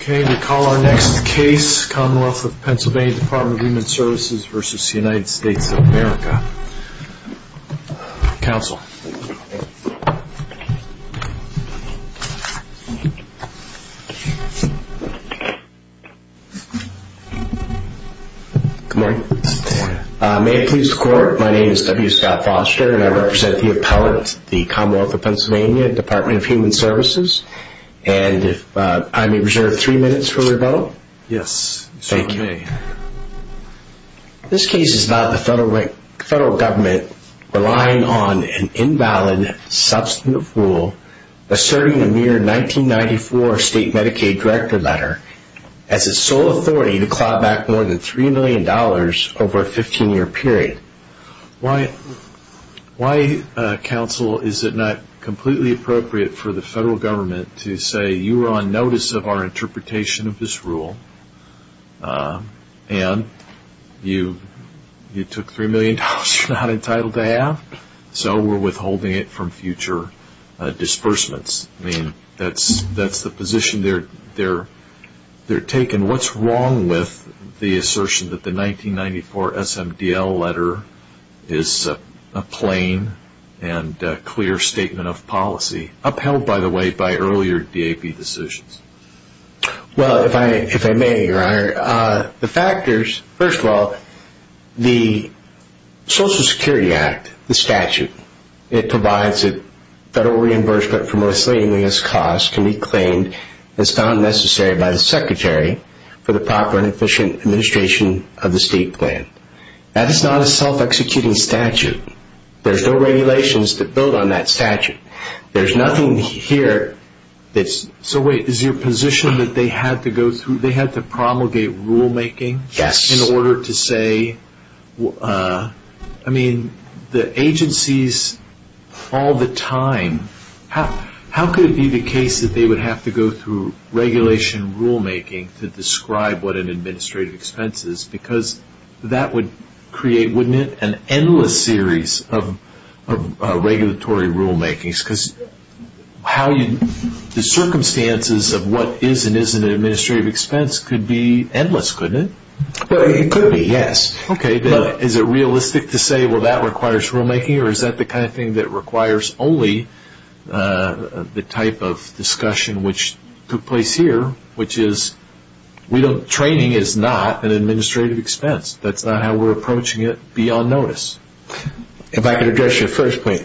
Okay, we call our next case, Commonwealth of Pennsylvania Department of Human Services v. United States of America. Counsel. Good morning. May it please the Court, my name is W. Scott Foster and I represent the appellate, the Commonwealth of Pennsylvania Department of Human Services. And I may reserve three minutes for rebuttal? Yes, you may. Thank you. This case is about the federal government relying on an invalid substantive rule asserting a mere 1994 state Medicaid director letter as its sole authority to claw back more than $3 million over a 15-year period. Why, Counsel, is it not completely appropriate for the federal government to say, you are on notice of our interpretation of this rule and you took $3 million you are not entitled to have, so we are withholding it from future disbursements. I mean, that is the position they are taking. What is wrong with the assertion that the 1994 SMDL letter is a plain and clear statement of policy, upheld by the way by earlier DAB decisions? Well, if I may, Your Honor, the factors, first of all, the Social Security Act, the statute, it provides that federal reimbursement for most saliently as cost can be claimed as found necessary by the Secretary for the proper and efficient administration of the state plan. That is not a self-executing statute. There are no regulations that build on that statute. There is nothing here that is... So wait, is your position that they had to go through, they had to promulgate rulemaking? Yes. In order to say, I mean, the agencies all the time, how could it be the case that they would have to go through regulation rulemaking to describe what an administrative expense is? Because that would create, wouldn't it, an endless series of regulatory rulemakings? Because the circumstances of what is and isn't an administrative expense could be endless, couldn't it? Well, it could be, yes. Okay. Is it realistic to say, well, that requires rulemaking, or is that the kind of thing that requires only the type of discussion which took place here, which is training is not an administrative expense. That's not how we're approaching it beyond notice. If I could address your first point.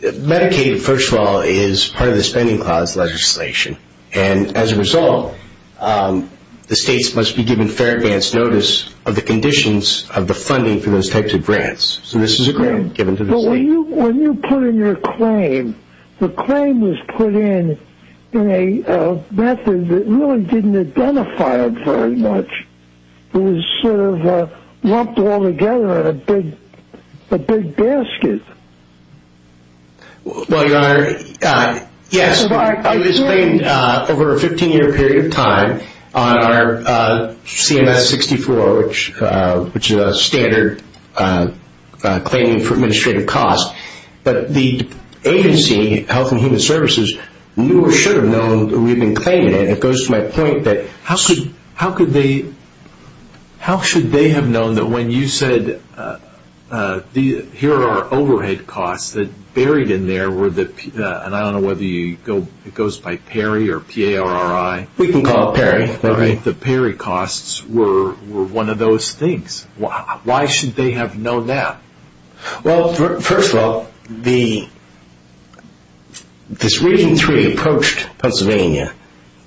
Medicaid, first of all, is part of the spending clause legislation. And as a result, the states must be given fair advance notice of the conditions of the funding for those types of grants. So this is a grant given to the state. When you put in your claim, the claim was put in in a method that really didn't identify it very much. It was sort of lumped all together in a big basket. Well, Your Honor, yes. I was claimed over a 15-year period of time on our CMS-64, which is a standard claiming for administrative costs. But the agency, Health and Human Services, knew or should have known that we had been claiming it. It goes to my point that how should they have known that when you said, here are overhead costs that are buried in there, and I don't know whether it goes by PERI or P-A-R-I. We can call it PERI. The PERI costs were one of those things. Why should they have known that? Well, first of all, this Region 3 approached Pennsylvania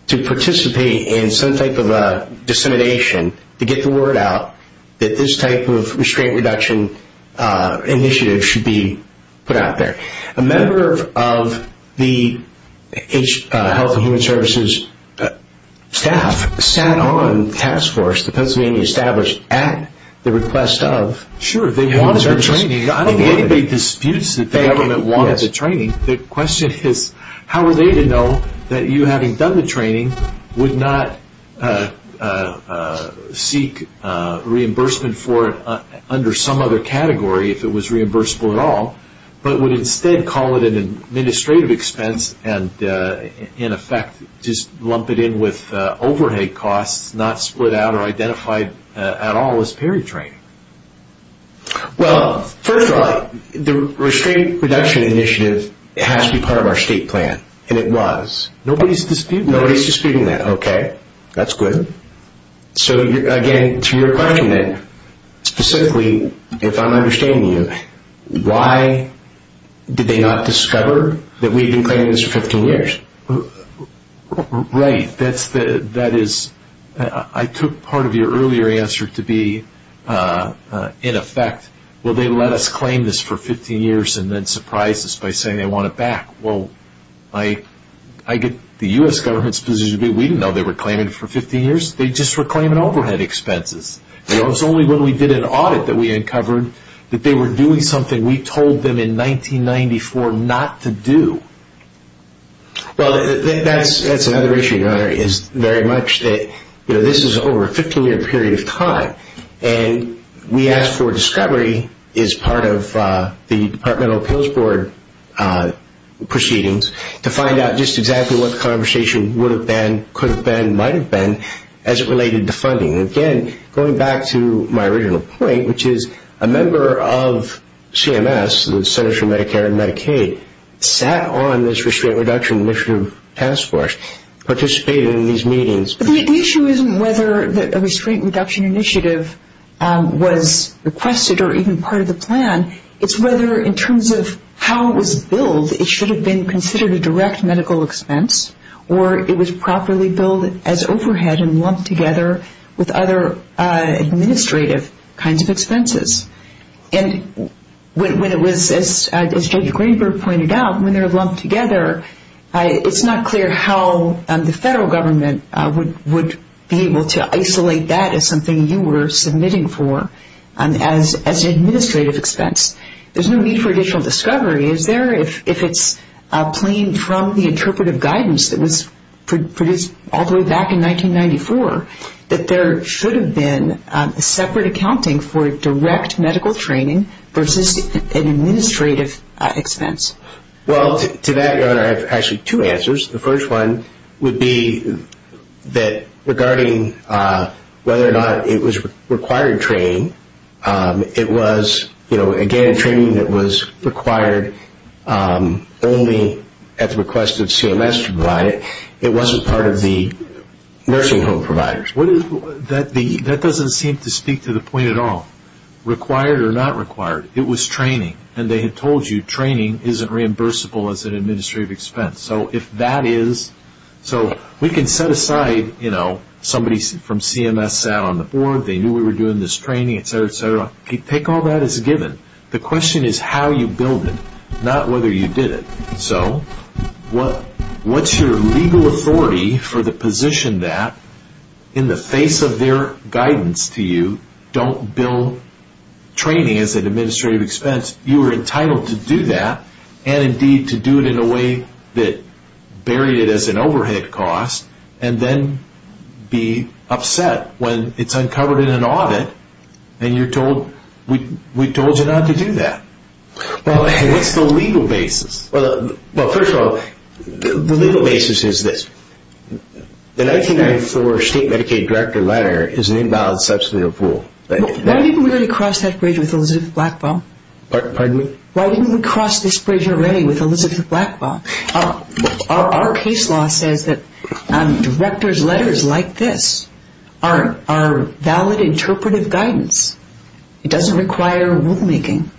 to participate in some type of dissemination to get the word out that this type of restraint reduction initiative should be put out there. A member of the Health and Human Services staff sat on the task force that Pennsylvania established at the request of I don't think anybody disputes that the government wanted the training. The question is how were they to know that you, having done the training, would not seek reimbursement for it under some other category if it was reimbursable at all, but would instead call it an administrative expense and, in effect, just lump it in with overhead costs that it's not split out or identified at all as PERI training? Well, first of all, the restraint reduction initiative has to be part of our state plan, and it was. Nobody's disputing that. Nobody's disputing that. Okay. That's good. So, again, to your question then, specifically, if I'm understanding you, why did they not discover that we had been planning this for 15 years? Right. That is, I took part of your earlier answer to be, in effect, well, they let us claim this for 15 years and then surprised us by saying they want it back. Well, I get the U.S. government's position to be we didn't know they were claiming it for 15 years. They just were claiming overhead expenses. It was only when we did an audit that we uncovered that they were doing something we told them in 1994 not to do. Well, that's another issue, Your Honor, is very much that this is over a 15-year period of time, and we asked for discovery as part of the Departmental Appeals Board proceedings to find out just exactly what the conversation would have been, could have been, might have been as it related to funding. And, again, going back to my original point, which is a member of CMS, the Centers for Medicare and Medicaid, sat on this Restraint Reduction Initiative Task Force, participated in these meetings. The issue isn't whether a Restraint Reduction Initiative was requested or even part of the plan. It's whether, in terms of how it was billed, it should have been considered a direct medical expense or it was properly billed as overhead and lumped together with other administrative kinds of expenses. And when it was, as J.D. Greenberg pointed out, when they're lumped together, it's not clear how the federal government would be able to isolate that as something you were submitting for as an administrative expense. There's no need for additional discovery. If it's plain from the interpretive guidance that was produced all the way back in 1994, that there should have been separate accounting for direct medical training versus an administrative expense. Well, to that, Governor, I have actually two answers. The first one would be that regarding whether or not it was required training, it was, you know, again, training that was required only at the request of CMS to provide it. It wasn't part of the nursing home providers. That doesn't seem to speak to the point at all, required or not required. It was training, and they had told you training isn't reimbursable as an administrative expense. So if that is, so we can set aside, you know, somebody from CMS sat on the board. They knew we were doing this training, et cetera, et cetera. Take all that as a given. The question is how you billed it, not whether you did it. So what's your legal authority for the position that in the face of their guidance to you, don't bill training as an administrative expense. You were entitled to do that and, indeed, to do it in a way that buried it as an overhead cost and then be upset when it's uncovered in an audit and you're told we told you not to do that. Well, what's the legal basis? Well, first of all, the legal basis is this. The 1994 state Medicaid director letter is an invalid substantive rule. Why didn't we already cross that bridge with Elizabeth Blackbaugh? Pardon me? Why didn't we cross this bridge already with Elizabeth Blackbaugh? Our case law says that director's letters like this are valid interpretive guidance. It doesn't require rulemaking.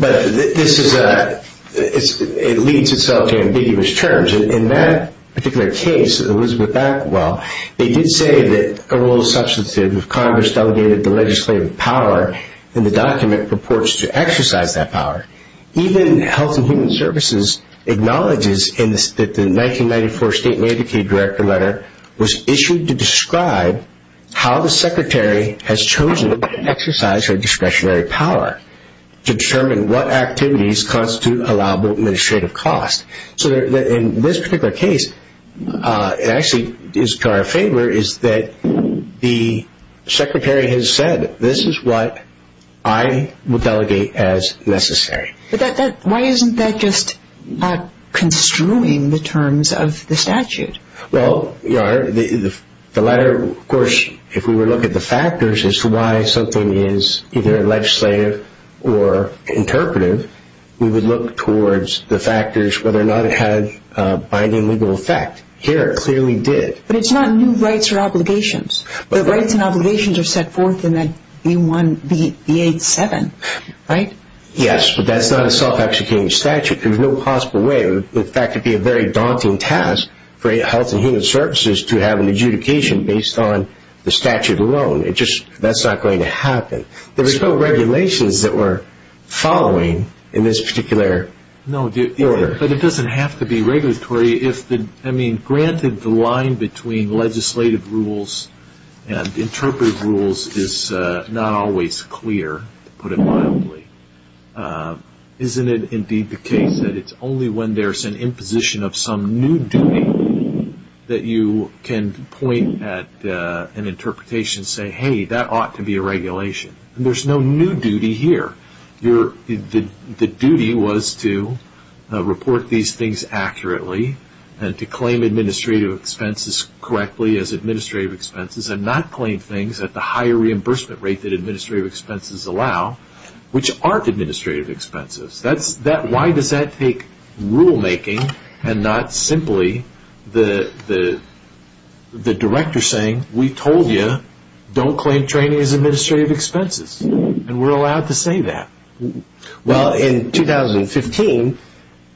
But this is a ‑‑ it leads itself to ambiguous terms. In that particular case, Elizabeth Blackbaugh, they did say that a rule of substantive if Congress delegated the legislative power in the document purports to exercise that power. Even Health and Human Services acknowledges that the 1994 state Medicaid director letter was issued to describe how the secretary has chosen to exercise her discretionary power to determine what activities constitute allowable administrative costs. So in this particular case, it actually is to our favor is that the secretary has said, this is what I will delegate as necessary. Why isn't that just construing the terms of the statute? Well, the latter, of course, if we were to look at the factors as to why something is either legislative or interpretive, we would look towards the factors whether or not it had a binding legal effect. Here it clearly did. But it's not new rights or obligations. The rights and obligations are set forth in that B87, right? Yes, but that's not a self‑executing statute. There's no possible way. In fact, it would be a very daunting task for Health and Human Services to have an adjudication based on the statute alone. That's not going to happen. There's no regulations that we're following in this particular order. No, but it doesn't have to be regulatory. I mean, granted the line between legislative rules and interpretive rules is not always clear, to put it mildly. Isn't it indeed the case that it's only when there's an imposition of some new duty that you can point at an interpretation and say, hey, that ought to be a regulation? There's no new duty here. The duty was to report these things accurately and to claim administrative expenses correctly as administrative expenses and not claim things at the higher reimbursement rate that administrative expenses allow, which aren't administrative expenses. Why does that take rulemaking and not simply the director saying, we told you, don't claim training as administrative expenses? And we're allowed to say that. Well, in 2015,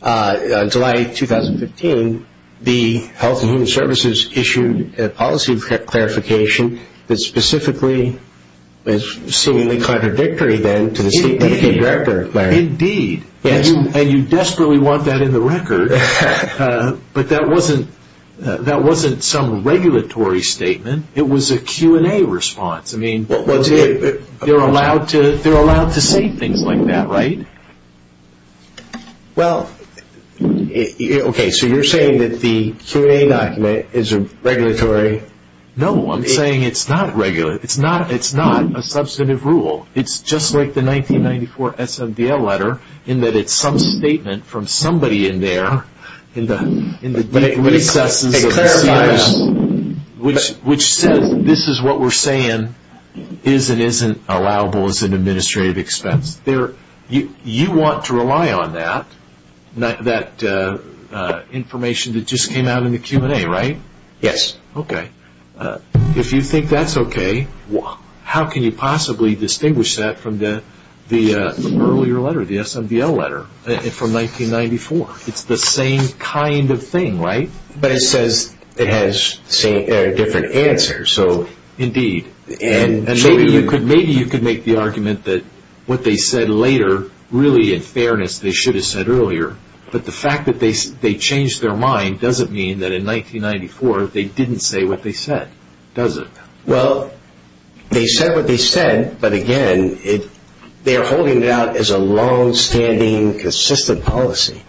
July 2015, the Health and Human Services issued a policy of clarification that specifically is seemingly contradictory, then, to the statement of the director. Indeed. And you desperately want that in the record, but that wasn't some regulatory statement. It was a Q&A response. I mean, they're allowed to say things like that, right? Well, okay, so you're saying that the Q&A document is a regulatory? No, I'm saying it's not regulatory. It's not a substantive rule. It's just like the 1994 SMDL letter in that it's some statement from somebody in there in the deep recesses of the CMS, which says this is what we're saying is and isn't allowable as an administrative expense. You want to rely on that, that information that just came out in the Q&A, right? Yes. Okay. If you think that's okay, how can you possibly distinguish that from the earlier letter, the SMDL letter from 1994? It's the same kind of thing, right? But it says it has different answers. Indeed. And maybe you could make the argument that what they said later, really, in fairness, they should have said earlier, but the fact that they changed their mind doesn't mean that in 1994 they didn't say what they said, does it? Well, they said what they said, but, again, they're holding it out as a longstanding, consistent policy.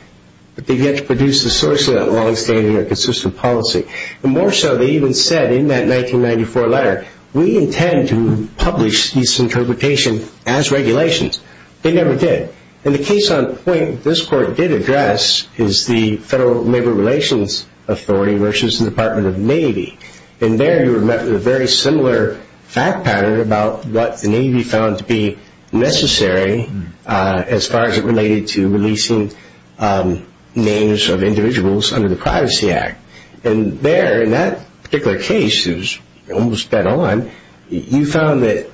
But they've yet to produce the source of that longstanding or consistent policy. And more so, they even said in that 1994 letter, we intend to publish this interpretation as regulations. They never did. And the case on point this court did address is the Federal Labor Relations Authority versus the Department of the Navy. And there you were met with a very similar fact pattern about what the Navy found to be necessary as far as it related to releasing names of individuals under the Privacy Act. And there, in that particular case, it was almost bet on, you found that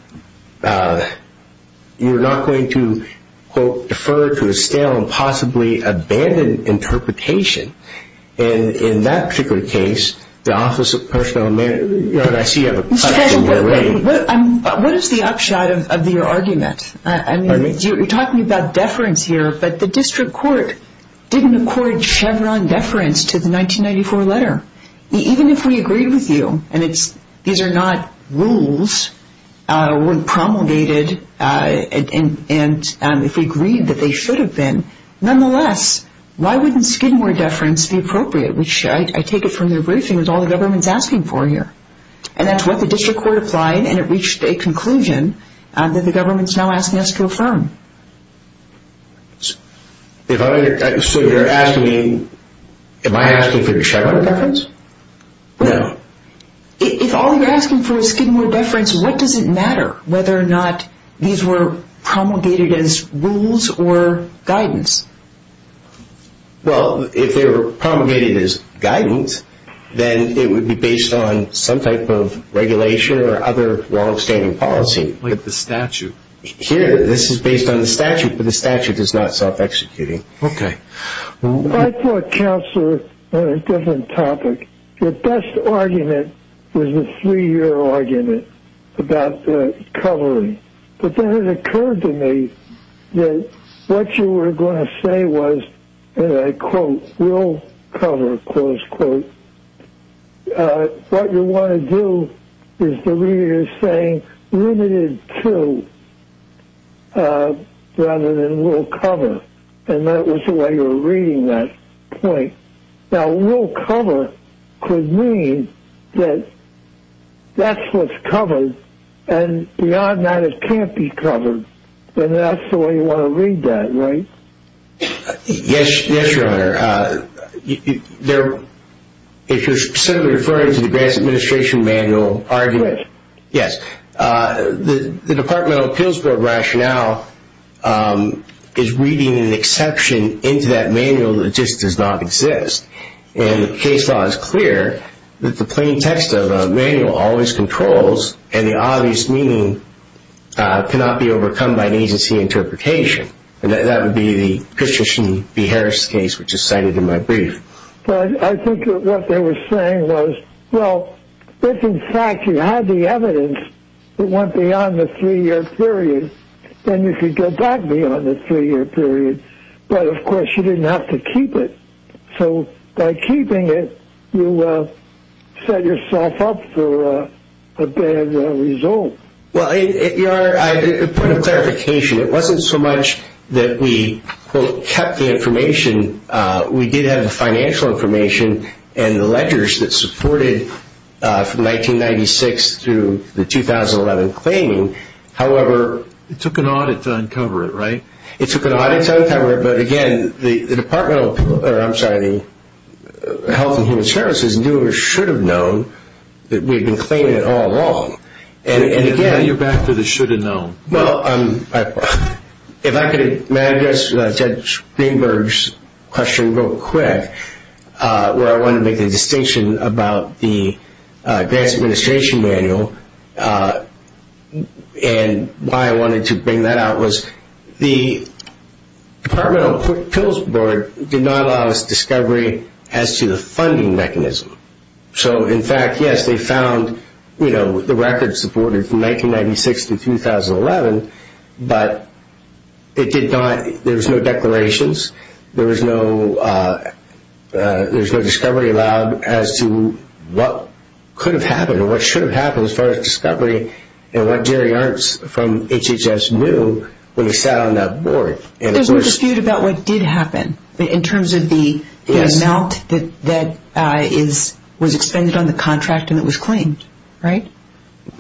you're not going to, quote, defer to a stale and possibly abandoned interpretation. And in that particular case, the Office of Personnel Management – Your Honor, I see you have a question. What is the upshot of your argument? I mean, you're talking about deference here, but the district court didn't accord Chevron deference to the 1994 letter. Even if we agreed with you, and these are not rules, weren't promulgated, and if we agreed that they should have been, nonetheless, why wouldn't Skidmore deference be appropriate, which I take it from the briefing was all the government's asking for here. And that's what the district court applied, and it reached a conclusion that the government's now asking us to affirm. So you're asking me, am I asking for Chevron deference? No. If all you're asking for is Skidmore deference, what does it matter whether or not these were promulgated as rules or guidance? Well, if they were promulgated as guidance, then it would be based on some type of regulation or other longstanding policy. Like the statute. Here, this is based on the statute, but the statute is not self-executing. Okay. I put counsel on a different topic. The best argument was the three-year argument about the covering. But then it occurred to me that what you were going to say was, and I quote, will cover, close quote. What you want to do is to read it as saying limited to, rather than will cover. And that was the way you were reading that point. Now, will cover could mean that that's what's covered, and beyond that, it can't be covered. And that's the way you want to read that, right? Yes, Your Honor. If you're simply referring to the grants administration manual argument, yes. The Department of Appeals Board rationale is reading an exception into that manual that just does not exist. And the case law is clear that the plain text of a manual always controls, and the obvious meaning cannot be overcome by an agency interpretation. And that would be the Christian B. Harris case, which is cited in my brief. But I think what they were saying was, well, if, in fact, you had the evidence, it went beyond the three-year period, then you could go back beyond the three-year period. But, of course, you didn't have to keep it. So by keeping it, you set yourself up for a bad result. Well, Your Honor, a point of clarification. It wasn't so much that we, quote, kept the information. We did have the financial information and the ledgers that supported from 1996 through the 2011 claiming. However, it took an audit to uncover it, right? It took an audit to uncover it. But, again, the Department of Health and Human Services knew or should have known that we had been claiming it all along. And, again- You're back to the should have known. Well, if I could, may I address Judge Greenberg's question real quick, where I wanted to make a distinction about the Grants Administration Manual. And why I wanted to bring that out was the Department of Pills Board did not allow us discovery as to the funding mechanism. So, in fact, yes, they found the records supported from 1996 to 2011, but it did not- there was no declarations. There was no discovery allowed as to what could have happened or what should have happened as far as discovery and what Jerry Ernst from HHS knew when he sat on that board. There's no dispute about what did happen in terms of the amount that was expended on the contract and that was claimed, right?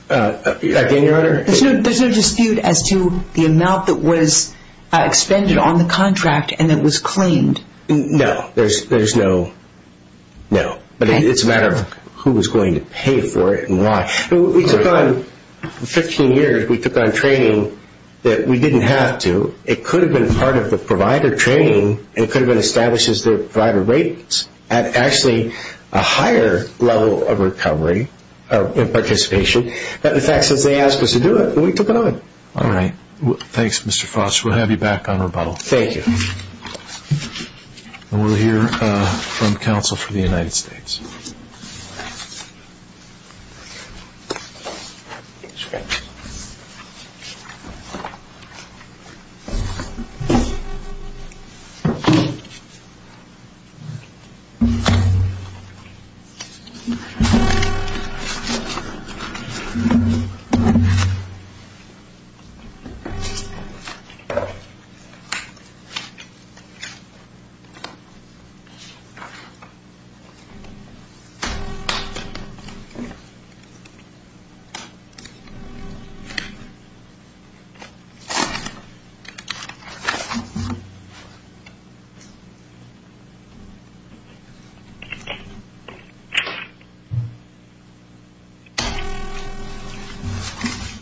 Again, Your Honor- There's no dispute as to the amount that was expended on the contract and that was claimed. No, there's no- no. But it's a matter of who was going to pay for it and why. We took on- for 15 years, we took on training that we didn't have to. It could have been part of the provider training. It could have been established as the provider ratings. Actually, a higher level of recovery and participation. But, in fact, since they asked us to do it, we took it on. All right. Thanks, Mr. Foster. We'll have you back on rebuttal. Thank you. And we'll hear from counsel for the United States.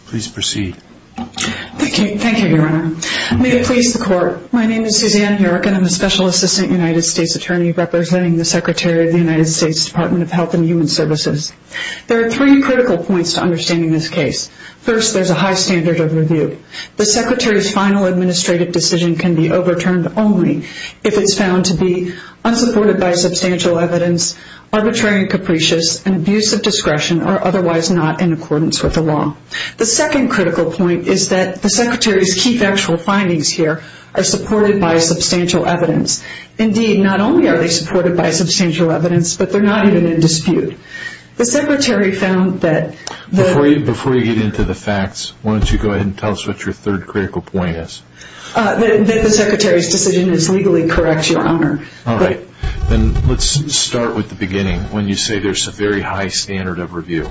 Please proceed. Thank you. Thank you, Your Honor. May it please the Court. My name is Suzanne Herrick and I'm a Special Assistant United States Attorney representing the Secretary of the United States Department of Health and Human Services. There are three critical points to understanding this case. First, there's a high standard of review. The Secretary's final administrative decision can be overturned only if it's found to be unsupported by substantial evidence, arbitrary and capricious, and abuse of discretion or otherwise not in accordance with the law. The second critical point is that the Secretary's key factual findings here are supported by substantial evidence. Indeed, not only are they supported by substantial evidence, but they're not even in dispute. The Secretary found that the- Before you get into the facts, why don't you go ahead and tell us what your third critical point is. That the Secretary's decision is legally correct, Your Honor. All right. When you say there's a very high standard of review,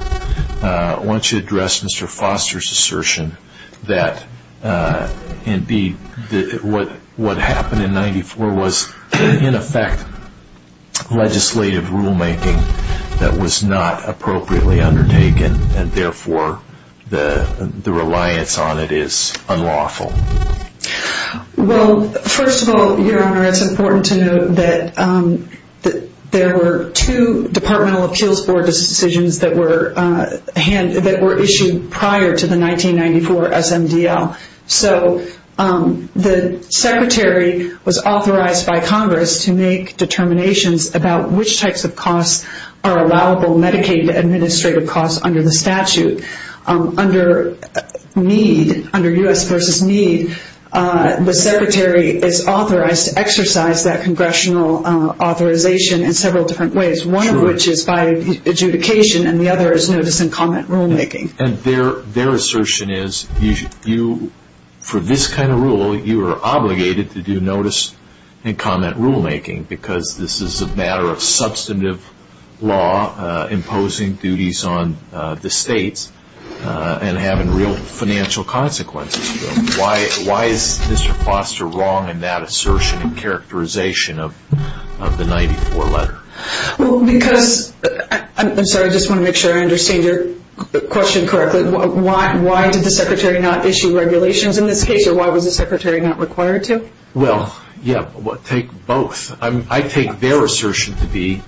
I want you to address Mr. Foster's assertion that, indeed, what happened in 94 was, in effect, legislative rulemaking that was not appropriately undertaken and, therefore, the reliance on it is unlawful. Well, first of all, Your Honor, it's important to note that there were two departmental appeals board decisions that were issued prior to the 1994 SMDL. So the Secretary was authorized by Congress to make determinations about which types of costs are allowable Medicaid administrative costs under the statute. Under U.S. v. Meade, the Secretary is authorized to exercise that congressional authorization in several different ways. One of which is by adjudication and the other is notice and comment rulemaking. And their assertion is, for this kind of rule, you are obligated to do notice and comment rulemaking because this is a matter of substantive law imposing duties on the states and having real financial consequences. Why is Mr. Foster wrong in that assertion and characterization of the 94 letter? I'm sorry, I just want to make sure I understand your question correctly. Why did the Secretary not issue regulations in this case or why was the Secretary not required to? Well, yeah, take both. I take their assertion to be,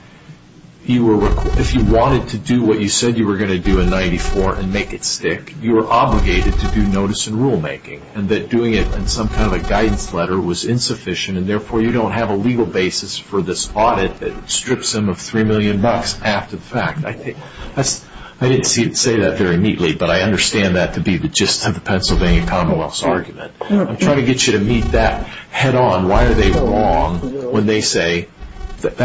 if you wanted to do what you said you were going to do in 94 and make it stick, you were obligated to do notice and rulemaking and that doing it in some kind of a guidance letter was insufficient and therefore you don't have a legal basis for this audit that strips them of $3 million after the fact. I didn't say that very neatly, but I understand that to be the gist of the Pennsylvania Commonwealth's argument. I'm trying to get you to meet that head on. Why are they wrong when they say that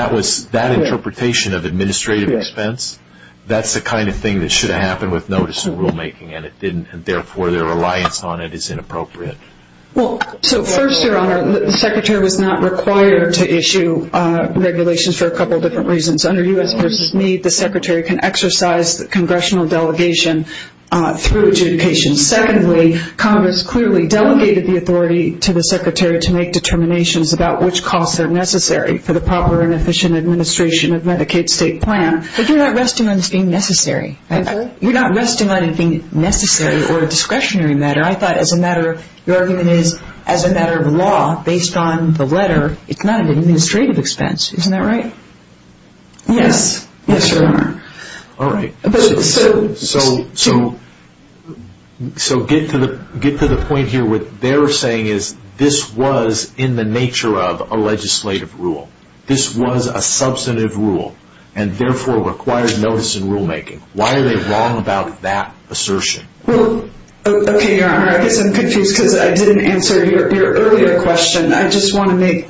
that interpretation of administrative expense, that's the kind of thing that should have happened with notice and rulemaking and therefore their reliance on it is inappropriate. Well, so first, Your Honor, the Secretary was not required to issue regulations for a couple of different reasons. Under U.S. v. Meade, the Secretary can exercise the congressional delegation through adjudication. Secondly, Congress clearly delegated the authority to the Secretary to make determinations about which costs are necessary for the proper and efficient administration of Medicaid's state plan. But you're not resting on this being necessary. You're not resting on it being necessary or a discretionary matter. I thought as a matter, your argument is as a matter of law, based on the letter, it's not an administrative expense. Isn't that right? Yes. Yes, Your Honor. All right. So get to the point here. What they're saying is this was in the nature of a legislative rule. This was a substantive rule and therefore required notice and rulemaking. Why are they wrong about that assertion? Well, okay, Your Honor. I guess I'm confused because I didn't answer your earlier question. I just want to make,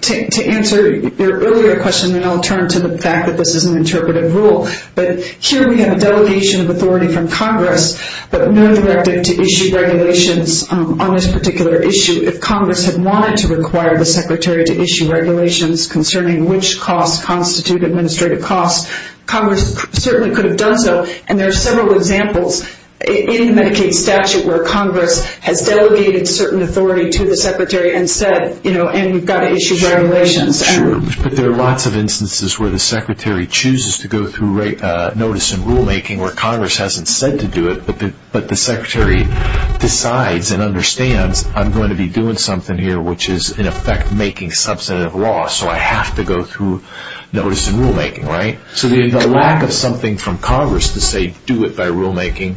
to answer your earlier question, then I'll turn to the fact that this is an interpretive rule. But here we have a delegation of authority from Congress, but no directive to issue regulations on this particular issue. If Congress had wanted to require the Secretary to issue regulations concerning which costs constitute administrative costs, Congress certainly could have done so. And there are several examples in the Medicaid statute where Congress has delegated certain authority to the Secretary and said, you know, and we've got to issue regulations. Sure. But there are lots of instances where the Secretary chooses to go through notice and rulemaking where Congress hasn't said to do it, but the Secretary decides and understands I'm going to be doing something here which is in effect making substantive law, so I have to go through notice and rulemaking, right? So the lack of something from Congress to say do it by rulemaking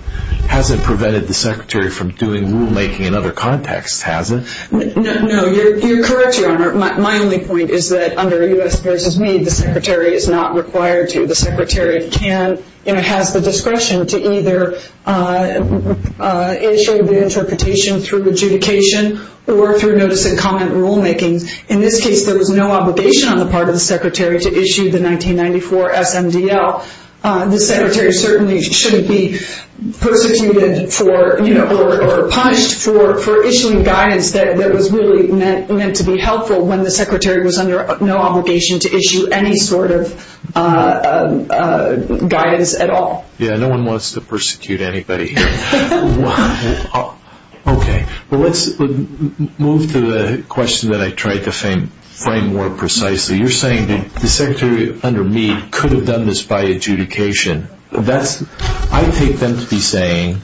hasn't prevented the Secretary from doing rulemaking in other contexts, has it? No. You're correct, Your Honor. My only point is that under U.S. versus me, the Secretary is not required to. The Secretary can and has the discretion to either issue the interpretation through adjudication or through notice and comment rulemaking. In this case, there was no obligation on the part of the Secretary to issue the 1994 SMDL. The Secretary certainly shouldn't be persecuted for, you know, or punished for issuing guidance that was really meant to be helpful when the Secretary was under no obligation to issue any sort of guidance at all. Yeah, no one wants to persecute anybody here. Okay. Well, let's move to the question that I tried to frame more precisely. You're saying the Secretary under me could have done this by adjudication. I take them to be saying,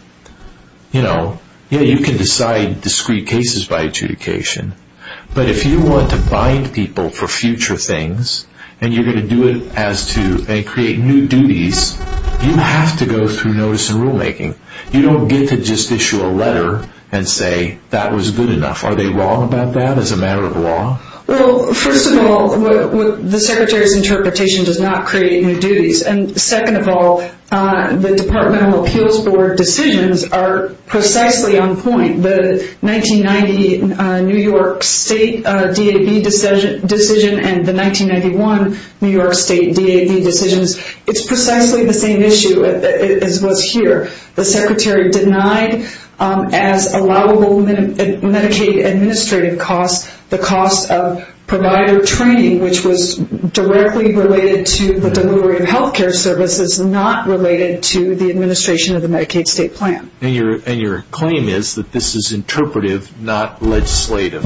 you know, you can decide discrete cases by adjudication, but if you want to bind people for future things and you're going to do it as to create new duties, you have to go through notice and rulemaking. You don't get to just issue a letter and say that was good enough. Are they wrong about that as a matter of law? Well, first of all, the Secretary's interpretation does not create new duties. And second of all, the Department of Appeals Board decisions are precisely on point. The 1990 New York State DAB decision and the 1991 New York State DAB decisions, it's precisely the same issue as was here. The Secretary denied as allowable Medicaid administrative costs the cost of provider training, which was directly related to the delivery of health care services, not related to the administration of the Medicaid state plan. And your claim is that this is interpretive, not legislative.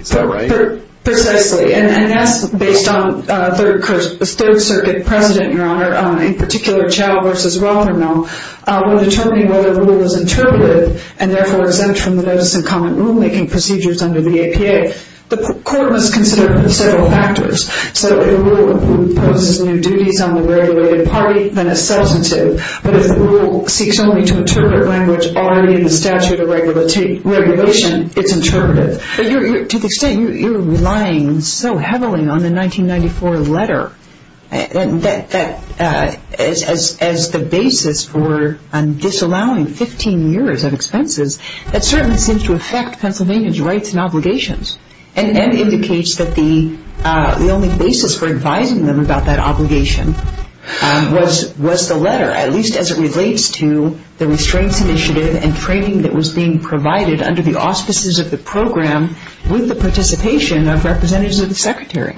Is that right? Precisely. And that's based on Third Circuit precedent, Your Honor, on a particular child versus welfare bill. We're determining whether the rule is interpretive and therefore exempt from the notice and common rulemaking procedures under the APA. The court must consider several factors. So if the rule imposes new duties on the regulated party, then it's substantive. But if the rule seeks only to interpret language already in the statute of regulation, it's interpretive. But to the extent you're relying so heavily on the 1994 letter as the basis for disallowing 15 years of expenses, that certainly seems to affect Pennsylvania's rights and obligations and indicates that the only basis for advising them about that obligation was the letter, at least as it relates to the restraints initiative and training that was being provided under the auspices of the program with the participation of representatives of the Secretary.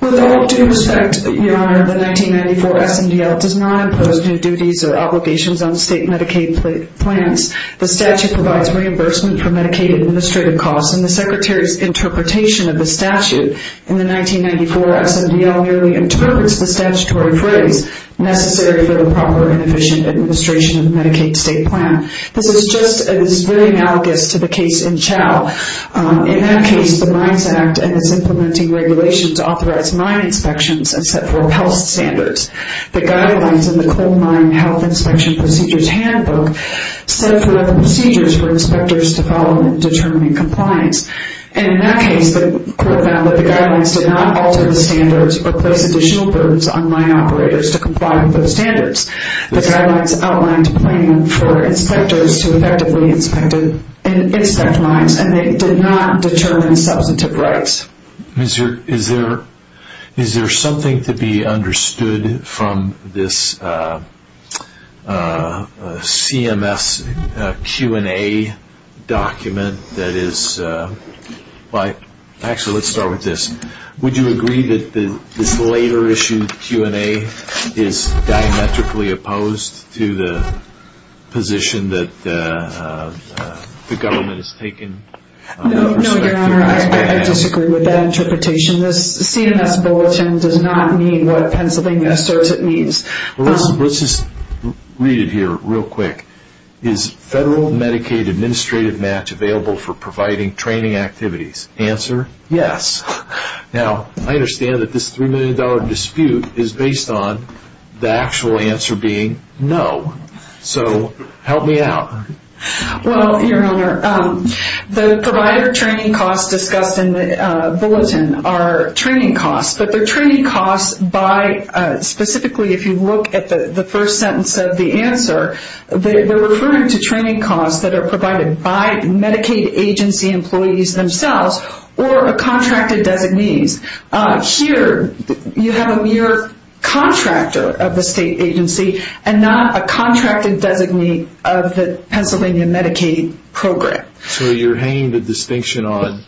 With all due respect, Your Honor, the 1994 SMDL does not impose new duties or obligations on state Medicaid plans. The statute provides reimbursement for Medicaid administrative costs, and the Secretary's interpretation of the statute in the 1994 SMDL merely interprets the statutory phrase necessary for the proper and efficient administration of the Medicaid state plan. This is very analogous to the case in Chow. In that case, the Mines Act and its implementing regulations authorized mine inspections and set for health standards. The guidelines in the Coal Mine Health Inspection Procedures Handbook set for other procedures for inspectors to follow in determining compliance. And in that case, the court found that the guidelines did not alter the standards or place additional burdens on mine operators to comply with those standards. The guidelines outlined a plan for inspectors to effectively inspect mines, and they did not determine substantive rights. Is there something to be understood from this CMS Q&A document that is, actually, let's start with this. Would you agree that this later issued Q&A is diametrically opposed to the position that the government has taken? No, Your Honor, I disagree with that interpretation. This CMS bulletin does not mean what Pennsylvania asserts it means. Well, let's just read it here real quick. Is federal Medicaid administrative match available for providing training activities? Answer, yes. Now, I understand that this $3 million dispute is based on the actual answer being, no, so help me out. Well, Your Honor, the provider training costs discussed in the bulletin are training costs, but they're training costs by, specifically, if you look at the first sentence of the answer, they're referring to training costs that are provided by Medicaid agency employees themselves or a contracted designee. Here, you have a mere contractor of the state agency and not a contracted designee of the Pennsylvania Medicaid program. So you're hanging the distinction on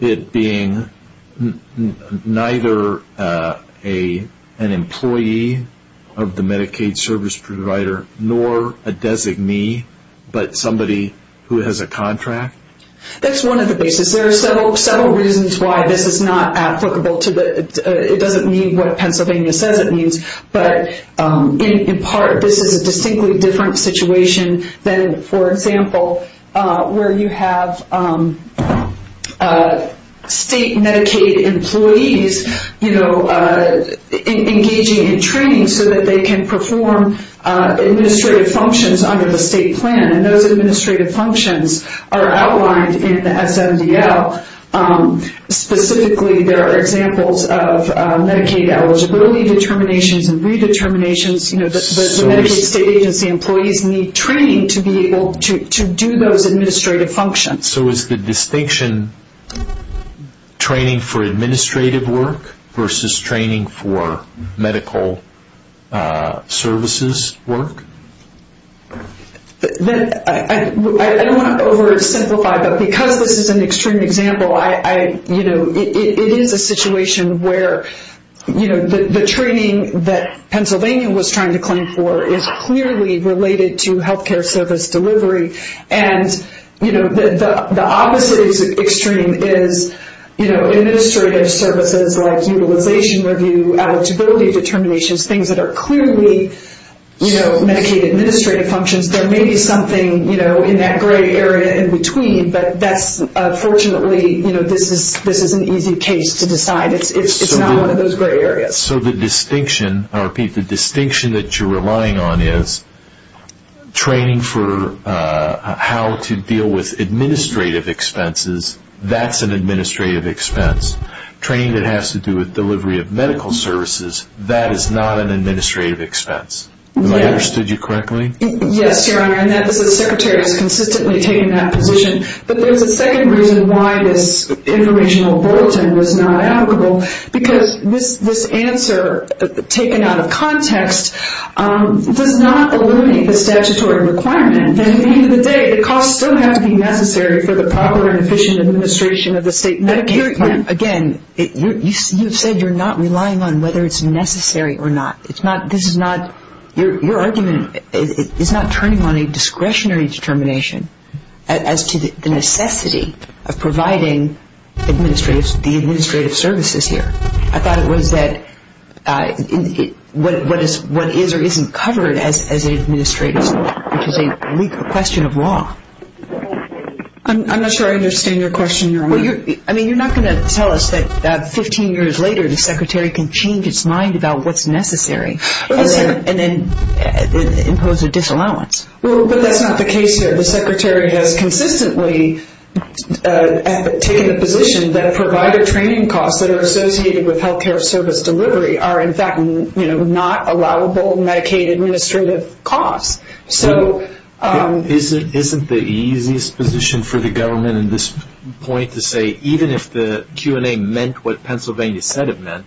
it being neither an employee of the Medicaid service provider nor a designee, but somebody who has a contract? That's one of the reasons. There are several reasons why this is not applicable. It doesn't mean what Pennsylvania says it means, but in part this is a distinctly different situation than, for example, where you have state Medicaid employees engaging in training so that they can perform administrative functions under the state plan, and those administrative functions are outlined in the SMDL. Specifically, there are examples of Medicaid eligibility determinations and redeterminations. The Medicaid state agency employees need training to be able to do those administrative functions. So is the distinction training for administrative work versus training for medical services work? I don't want to oversimplify, but because this is an extreme example, it is a situation where the training that Pennsylvania was trying to claim for is clearly related to healthcare service delivery, and the opposite extreme is administrative services like utilization review, eligibility determinations, things that are clearly Medicaid administrative functions. There may be something in that gray area in between, but fortunately this is an easy case to decide. It's not one of those gray areas. So the distinction that you're relying on is training for how to deal with administrative expenses. That's an administrative expense. Training that has to do with delivery of medical services, that is not an administrative expense. Have I understood you correctly? Yes, Your Honor, and the Secretary has consistently taken that position. But there's a second reason why this informational bulletin was not applicable, because this answer taken out of context does not eliminate the statutory requirement. At the end of the day, the costs still have to be necessary for the proper and efficient administration of the state Medicaid plan. Again, you've said you're not relying on whether it's necessary or not. This is not, your argument is not turning on a discretionary determination as to the necessity of providing the administrative services here. I thought it was that what is or isn't covered as administrative, which is a legal question of law. I'm not sure I understand your question, Your Honor. I mean, you're not going to tell us that 15 years later, the Secretary can change its mind about what's necessary and then impose a disallowance. Well, but that's not the case here. The Secretary has consistently taken the position that provider training costs that are associated with health care service delivery are, in fact, not allowable Medicaid administrative costs. Isn't the easiest position for the government in this point to say, even if the Q&A meant what Pennsylvania said it meant,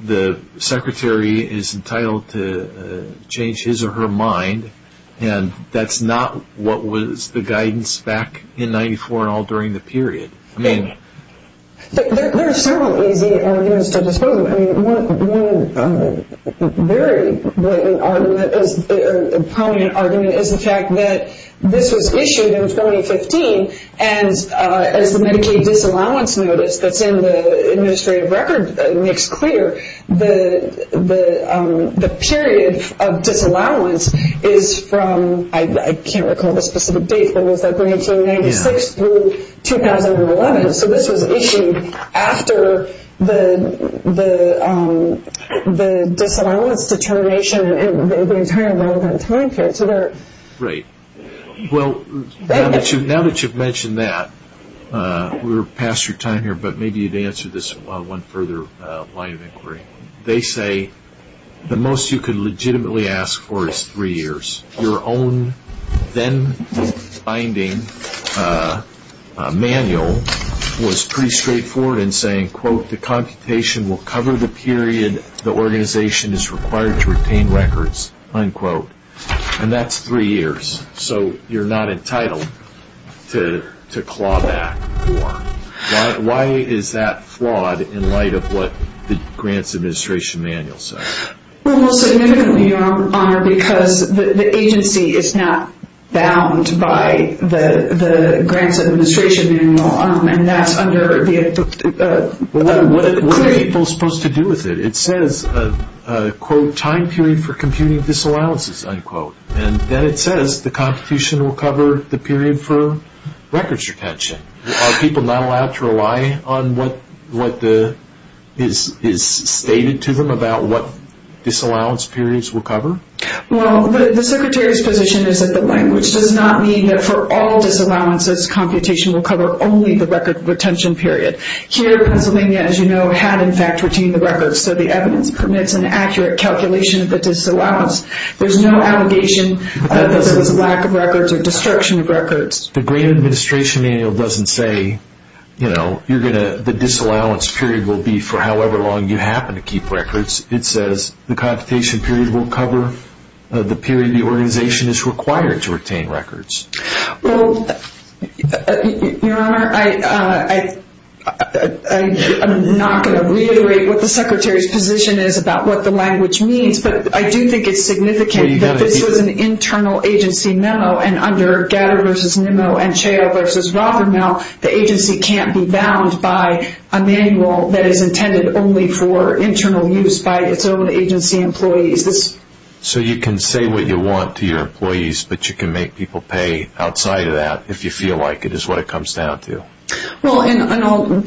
the Secretary is entitled to change his or her mind, and that's not what was the guidance back in 94 and all during the period. There are several easy arguments to dispose of. I mean, one very blatant argument is the fact that this was issued in 2015, and as the Medicaid disallowance notice that's in the administrative record makes clear, the period of disallowance is from, I can't recall the specific date, but was that 1996 through 2011? So this was issued after the disallowance determination and the entire relevant time period. Right. Well, now that you've mentioned that, we're past your time here, but maybe you'd answer this one further line of inquiry. They say the most you could legitimately ask for is three years. Your own then binding manual was pretty straightforward in saying, quote, the computation will cover the period the organization is required to retain records, unquote. And that's three years. So you're not entitled to claw back more. Why is that flawed in light of what the Grants Administration manual says? Well, most significantly, Your Honor, because the agency is not bound by the Grants Administration manual, and that's under the inquiry. What are people supposed to do with it? It says, quote, time period for computing disallowances, unquote. And then it says the Constitution will cover the period for records retention. Are people not allowed to rely on what is stated to them about what disallowance periods will cover? Well, the Secretary's position is that the language does not mean that for all disallowances, computation will cover only the record retention period. Here, Pennsylvania, as you know, had in fact retained the records, so the evidence permits an accurate calculation of the disallowance. There's no allegation that there was a lack of records or destruction of records. The Grants Administration manual doesn't say, you know, the disallowance period will be for however long you happen to keep records. It says the computation period will cover the period the organization is required to retain records. Well, Your Honor, I'm not going to reiterate what the Secretary's position is about what the language means, but I do think it's significant that this was an internal agency memo, and under Gadda v. Nimmo and Chao v. Rothermel, the agency can't be bound by a manual that is intended only for internal use by its own agency employees. So you can say what you want to your employees, but you can make people pay outside of that if you feel like it is what it comes down to. Well, and I'll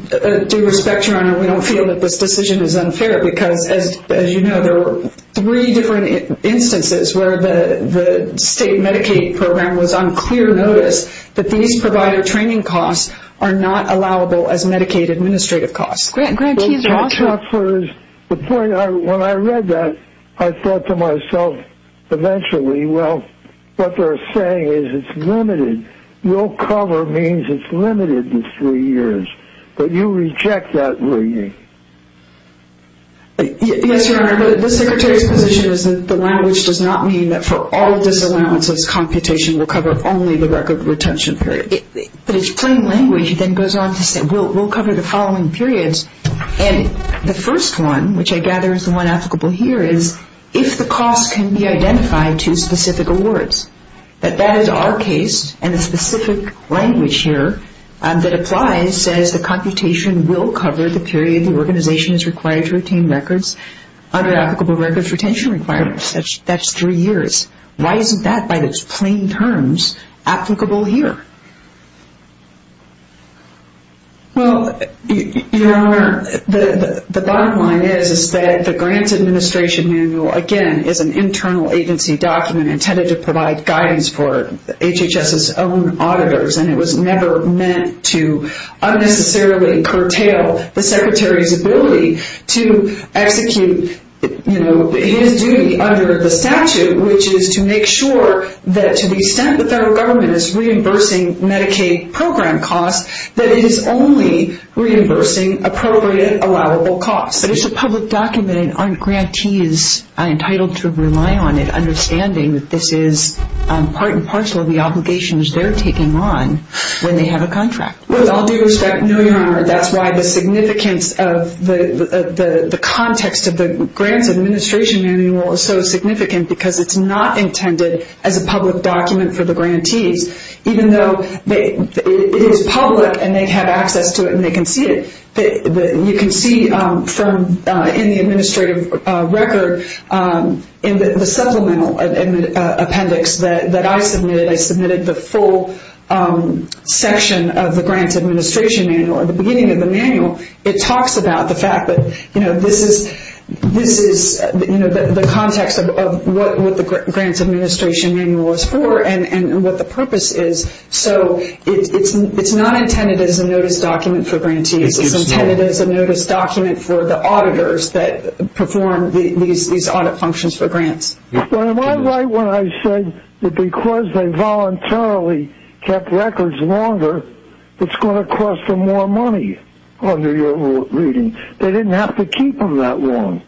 do respect, Your Honor, we don't feel that this decision is unfair, because as you know, there were three different instances where the state Medicaid program was on clear notice that these provider training costs are not allowable as Medicaid administrative costs. Grantees are also- The point, when I read that, I thought to myself eventually, well, what they're saying is it's limited. Your cover means it's limited to three years, but you reject that, will you? Yes, Your Honor, but the Secretary's position is that the language does not mean that for all disallowances, computation will cover only the record retention period. But it's plain language that goes on to say we'll cover the following periods, and the first one, which I gather is the one applicable here, is if the costs can be identified to specific awards. But that is our case, and the specific language here that applies says the computation will cover the period the organization is required to retain records under applicable records retention requirements. That's three years. Why isn't that, by its plain terms, applicable here? Well, Your Honor, the bottom line is that the Grants Administration Manual, again, is an internal agency document intended to provide guidance for HHS's own auditors, and it was never meant to unnecessarily curtail the Secretary's ability to execute his duty under the statute, which is to make sure that to the extent the federal government is reimbursing Medicaid program costs, that it is only reimbursing appropriate allowable costs. But it's a public document, and aren't grantees entitled to rely on it, understanding that this is part and parcel of the obligations they're taking on when they have a contract? With all due respect, no, Your Honor. That's why the significance of the context of the Grants Administration Manual is so significant, because it's not intended as a public document for the grantees, even though it is public and they have access to it and they can see it. You can see in the administrative record in the supplemental appendix that I submitted, I submitted the full section of the Grants Administration Manual. At the beginning of the manual, it talks about the fact that this is the context of what the Grants Administration Manual is for and what the purpose is. So it's not intended as a notice document for grantees. It's intended as a notice document for the auditors that perform these audit functions for grants. Well, am I right when I said that because they voluntarily kept records longer, it's going to cost them more money under your reading? They didn't have to keep them that long.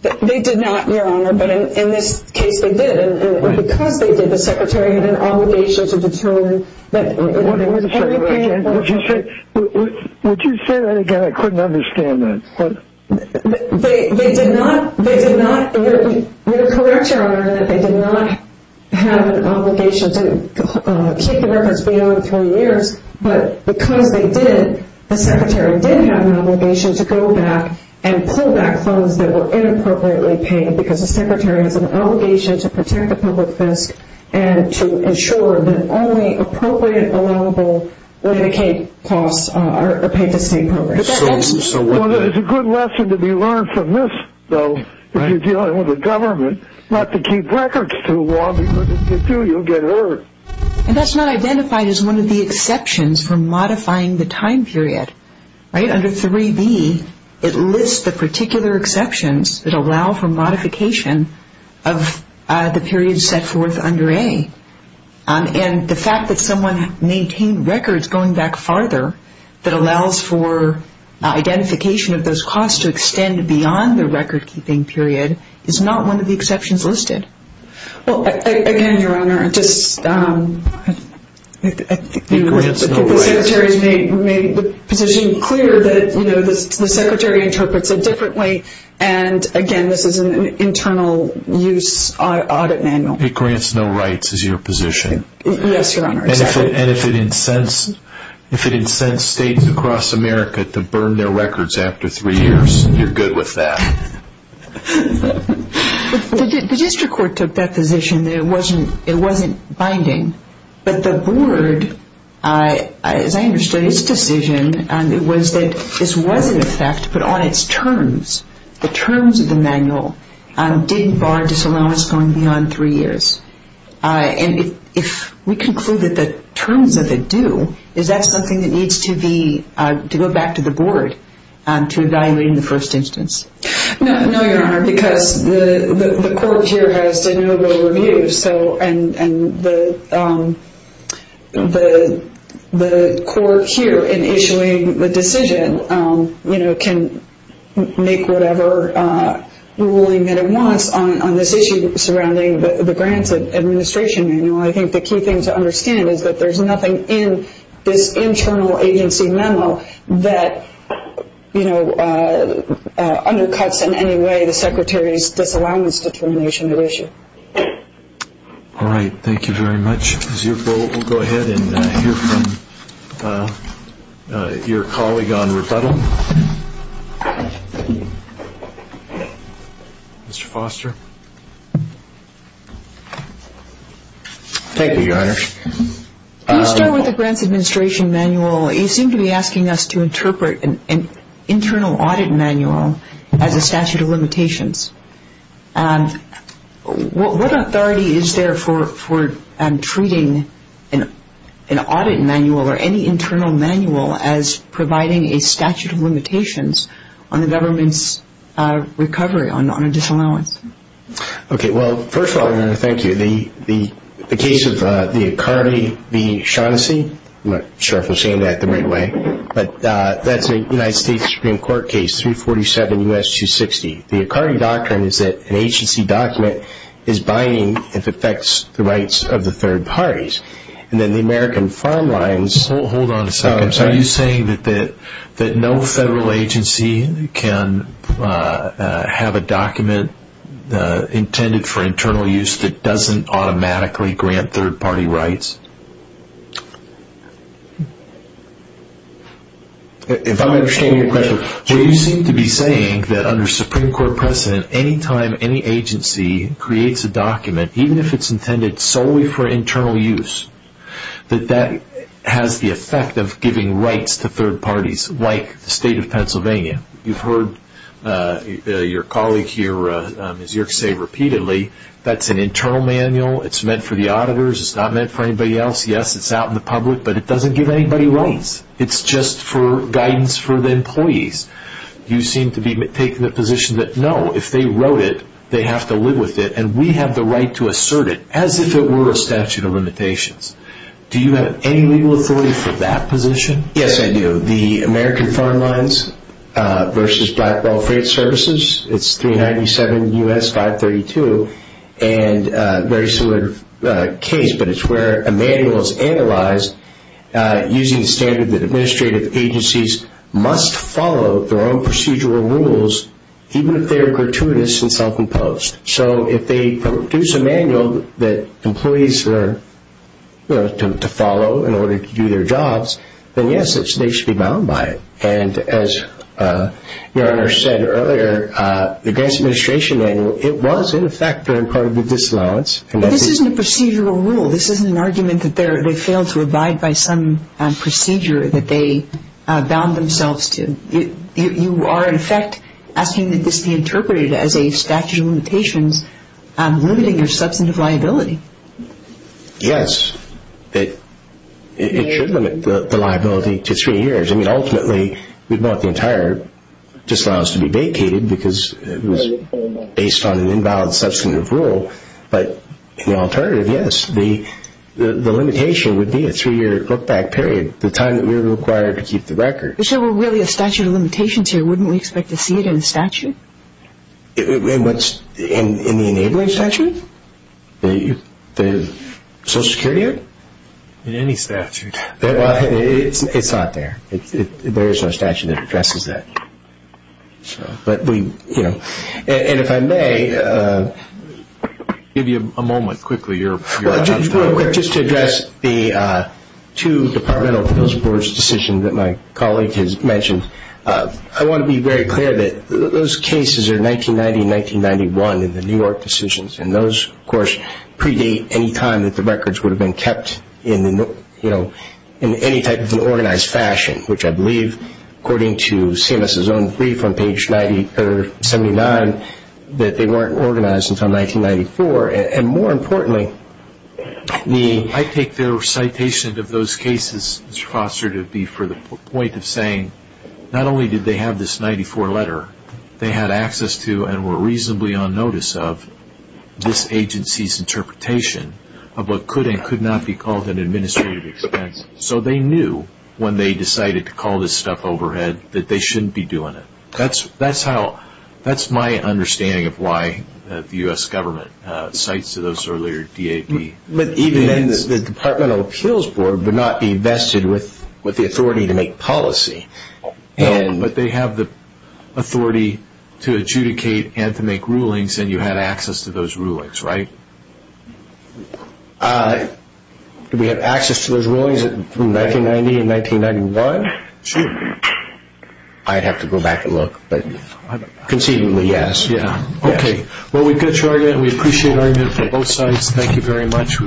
They did not, Your Honor, but in this case, they did. Because they did, the Secretary had an obligation to determine that everything... Would you say that again? I couldn't understand that. They did not. You're correct, Your Honor, in that they did not have an obligation to keep the records beyond three years, but because they did, the Secretary did have an obligation to go back and pull back funds that were inappropriately paid because the Secretary has an obligation to protect the public fisc and to ensure that only appropriate, allowable Medicaid costs are paid to state programs. It's a good lesson to be learned from this, though, if you're dealing with the government, not to keep records too long because if you do, you'll get hurt. And that's not identified as one of the exceptions for modifying the time period, right? Under 3B, it lists the particular exceptions that allow for modification of the period set forth under A. And the fact that someone maintained records going back farther that allows for identification of those costs to extend beyond the record-keeping period is not one of the exceptions listed. Well, again, Your Honor, the Secretary has made the position clear that the Secretary interprets it differently and, again, this is an internal use audit manual. It grants no rights is your position? Yes, Your Honor. And if it incensed states across America to burn their records after three years, you're good with that? The district court took that position that it wasn't binding, but the board, as I understand its decision, was that this was in effect, but on its terms. The terms of the manual didn't bar disallowance going beyond three years. And if we conclude that the terms of it do, is that something that needs to go back to the board to evaluate in the first instance? No, Your Honor, because the court here has de novo review, and the court here in issuing the decision can make whatever ruling that it wants on this issue surrounding the grants administration manual. I think the key thing to understand is that there's nothing in this internal agency manual that undercuts in any way the Secretary's disallowance determination of issue. All right, thank you very much. We'll go ahead and hear from your colleague on rebuttal. Mr. Foster. Thank you, Your Honor. When you start with the grants administration manual, you seem to be asking us to interpret an internal audit manual as a statute of limitations. What authority is there for treating an audit manual or any internal manual as providing a statute of limitations on the government's recovery on a disallowance? Okay, well, first of all, Your Honor, thank you. The case of the Icardi v. Shaughnessy, I'm not sure if I'm saying that the right way, but that's a United States Supreme Court case, 347 U.S. 260. The Icardi doctrine is that an agency document is binding if it affects the rights of the third parties. Hold on a second. Are you saying that no federal agency can have a document intended for internal use that doesn't automatically grant third-party rights? If I'm understanding your question, you seem to be saying that under Supreme Court precedent, any time any agency creates a document, even if it's intended solely for internal use, that that has the effect of giving rights to third parties, like the state of Pennsylvania. You've heard your colleague here, Ms. Yerkes, say repeatedly, that's an internal manual, it's meant for the auditors, it's not meant for anybody else. Yes, it's out in the public, but it doesn't give anybody rights. It's just for guidance for the employees. You seem to be taking the position that, no, if they wrote it, they have to live with it, and we have the right to assert it, as if it were a statute of limitations. Do you have any legal authority for that position? Yes, I do. The American Foreign Lines versus Blackwell Freight Services, it's 397 U.S. 532, and a very similar case, but it's where a manual is analyzed using the standard that administrative agencies must follow their own procedural rules, even if they are gratuitous and self-imposed. So if they produce a manual that employees are to follow in order to do their jobs, then yes, they should be bound by it. And as your Honor said earlier, the Grants Administration Manual, it was in effect during part of the disallowance. But this isn't a procedural rule. This isn't an argument that they failed to abide by some procedure that they bound themselves to. You are, in effect, asking that this be interpreted as a statute of limitations, limiting their substantive liability. Yes, it should limit the liability to three years. I mean, ultimately, we'd want the entire disallowance to be vacated because it was based on an invalid substantive rule. But the alternative, yes, the limitation would be a three-year look-back period, the time that we were required to keep the record. If there were really a statute of limitations here, wouldn't we expect to see it in a statute? In the enabling statute? The Social Security Act? In any statute. It's not there. There is no statute that addresses that. But we, you know, and if I may. Give you a moment quickly. Just to address the two departmental appeals board's decisions that my colleague has mentioned. I want to be very clear that those cases are 1990 and 1991 in the New York decisions, and those, of course, predate any time that the records would have been kept in any type of organized fashion, which I believe, according to CMS's own brief on page 79, that they weren't organized until 1994. And more importantly, the — I take their citation of those cases, Mr. Foster, to be for the point of saying, not only did they have this 94 letter, they had access to and were reasonably on notice of this agency's interpretation of what could and could not be called an administrative expense. So they knew when they decided to call this stuff overhead that they shouldn't be doing it. That's how — that's my understanding of why the U.S. government cites to those earlier DAP. But even then, the departmental appeals board would not be vested with the authority to make policy. But they have the authority to adjudicate and to make rulings, and you had access to those rulings, right? Do we have access to those rulings from 1990 and 1991? Sure. I'd have to go back and look, but conceivably, yes. Yeah, okay. Well, we've got your argument, and we appreciate your argument from both sides. Thank you very much.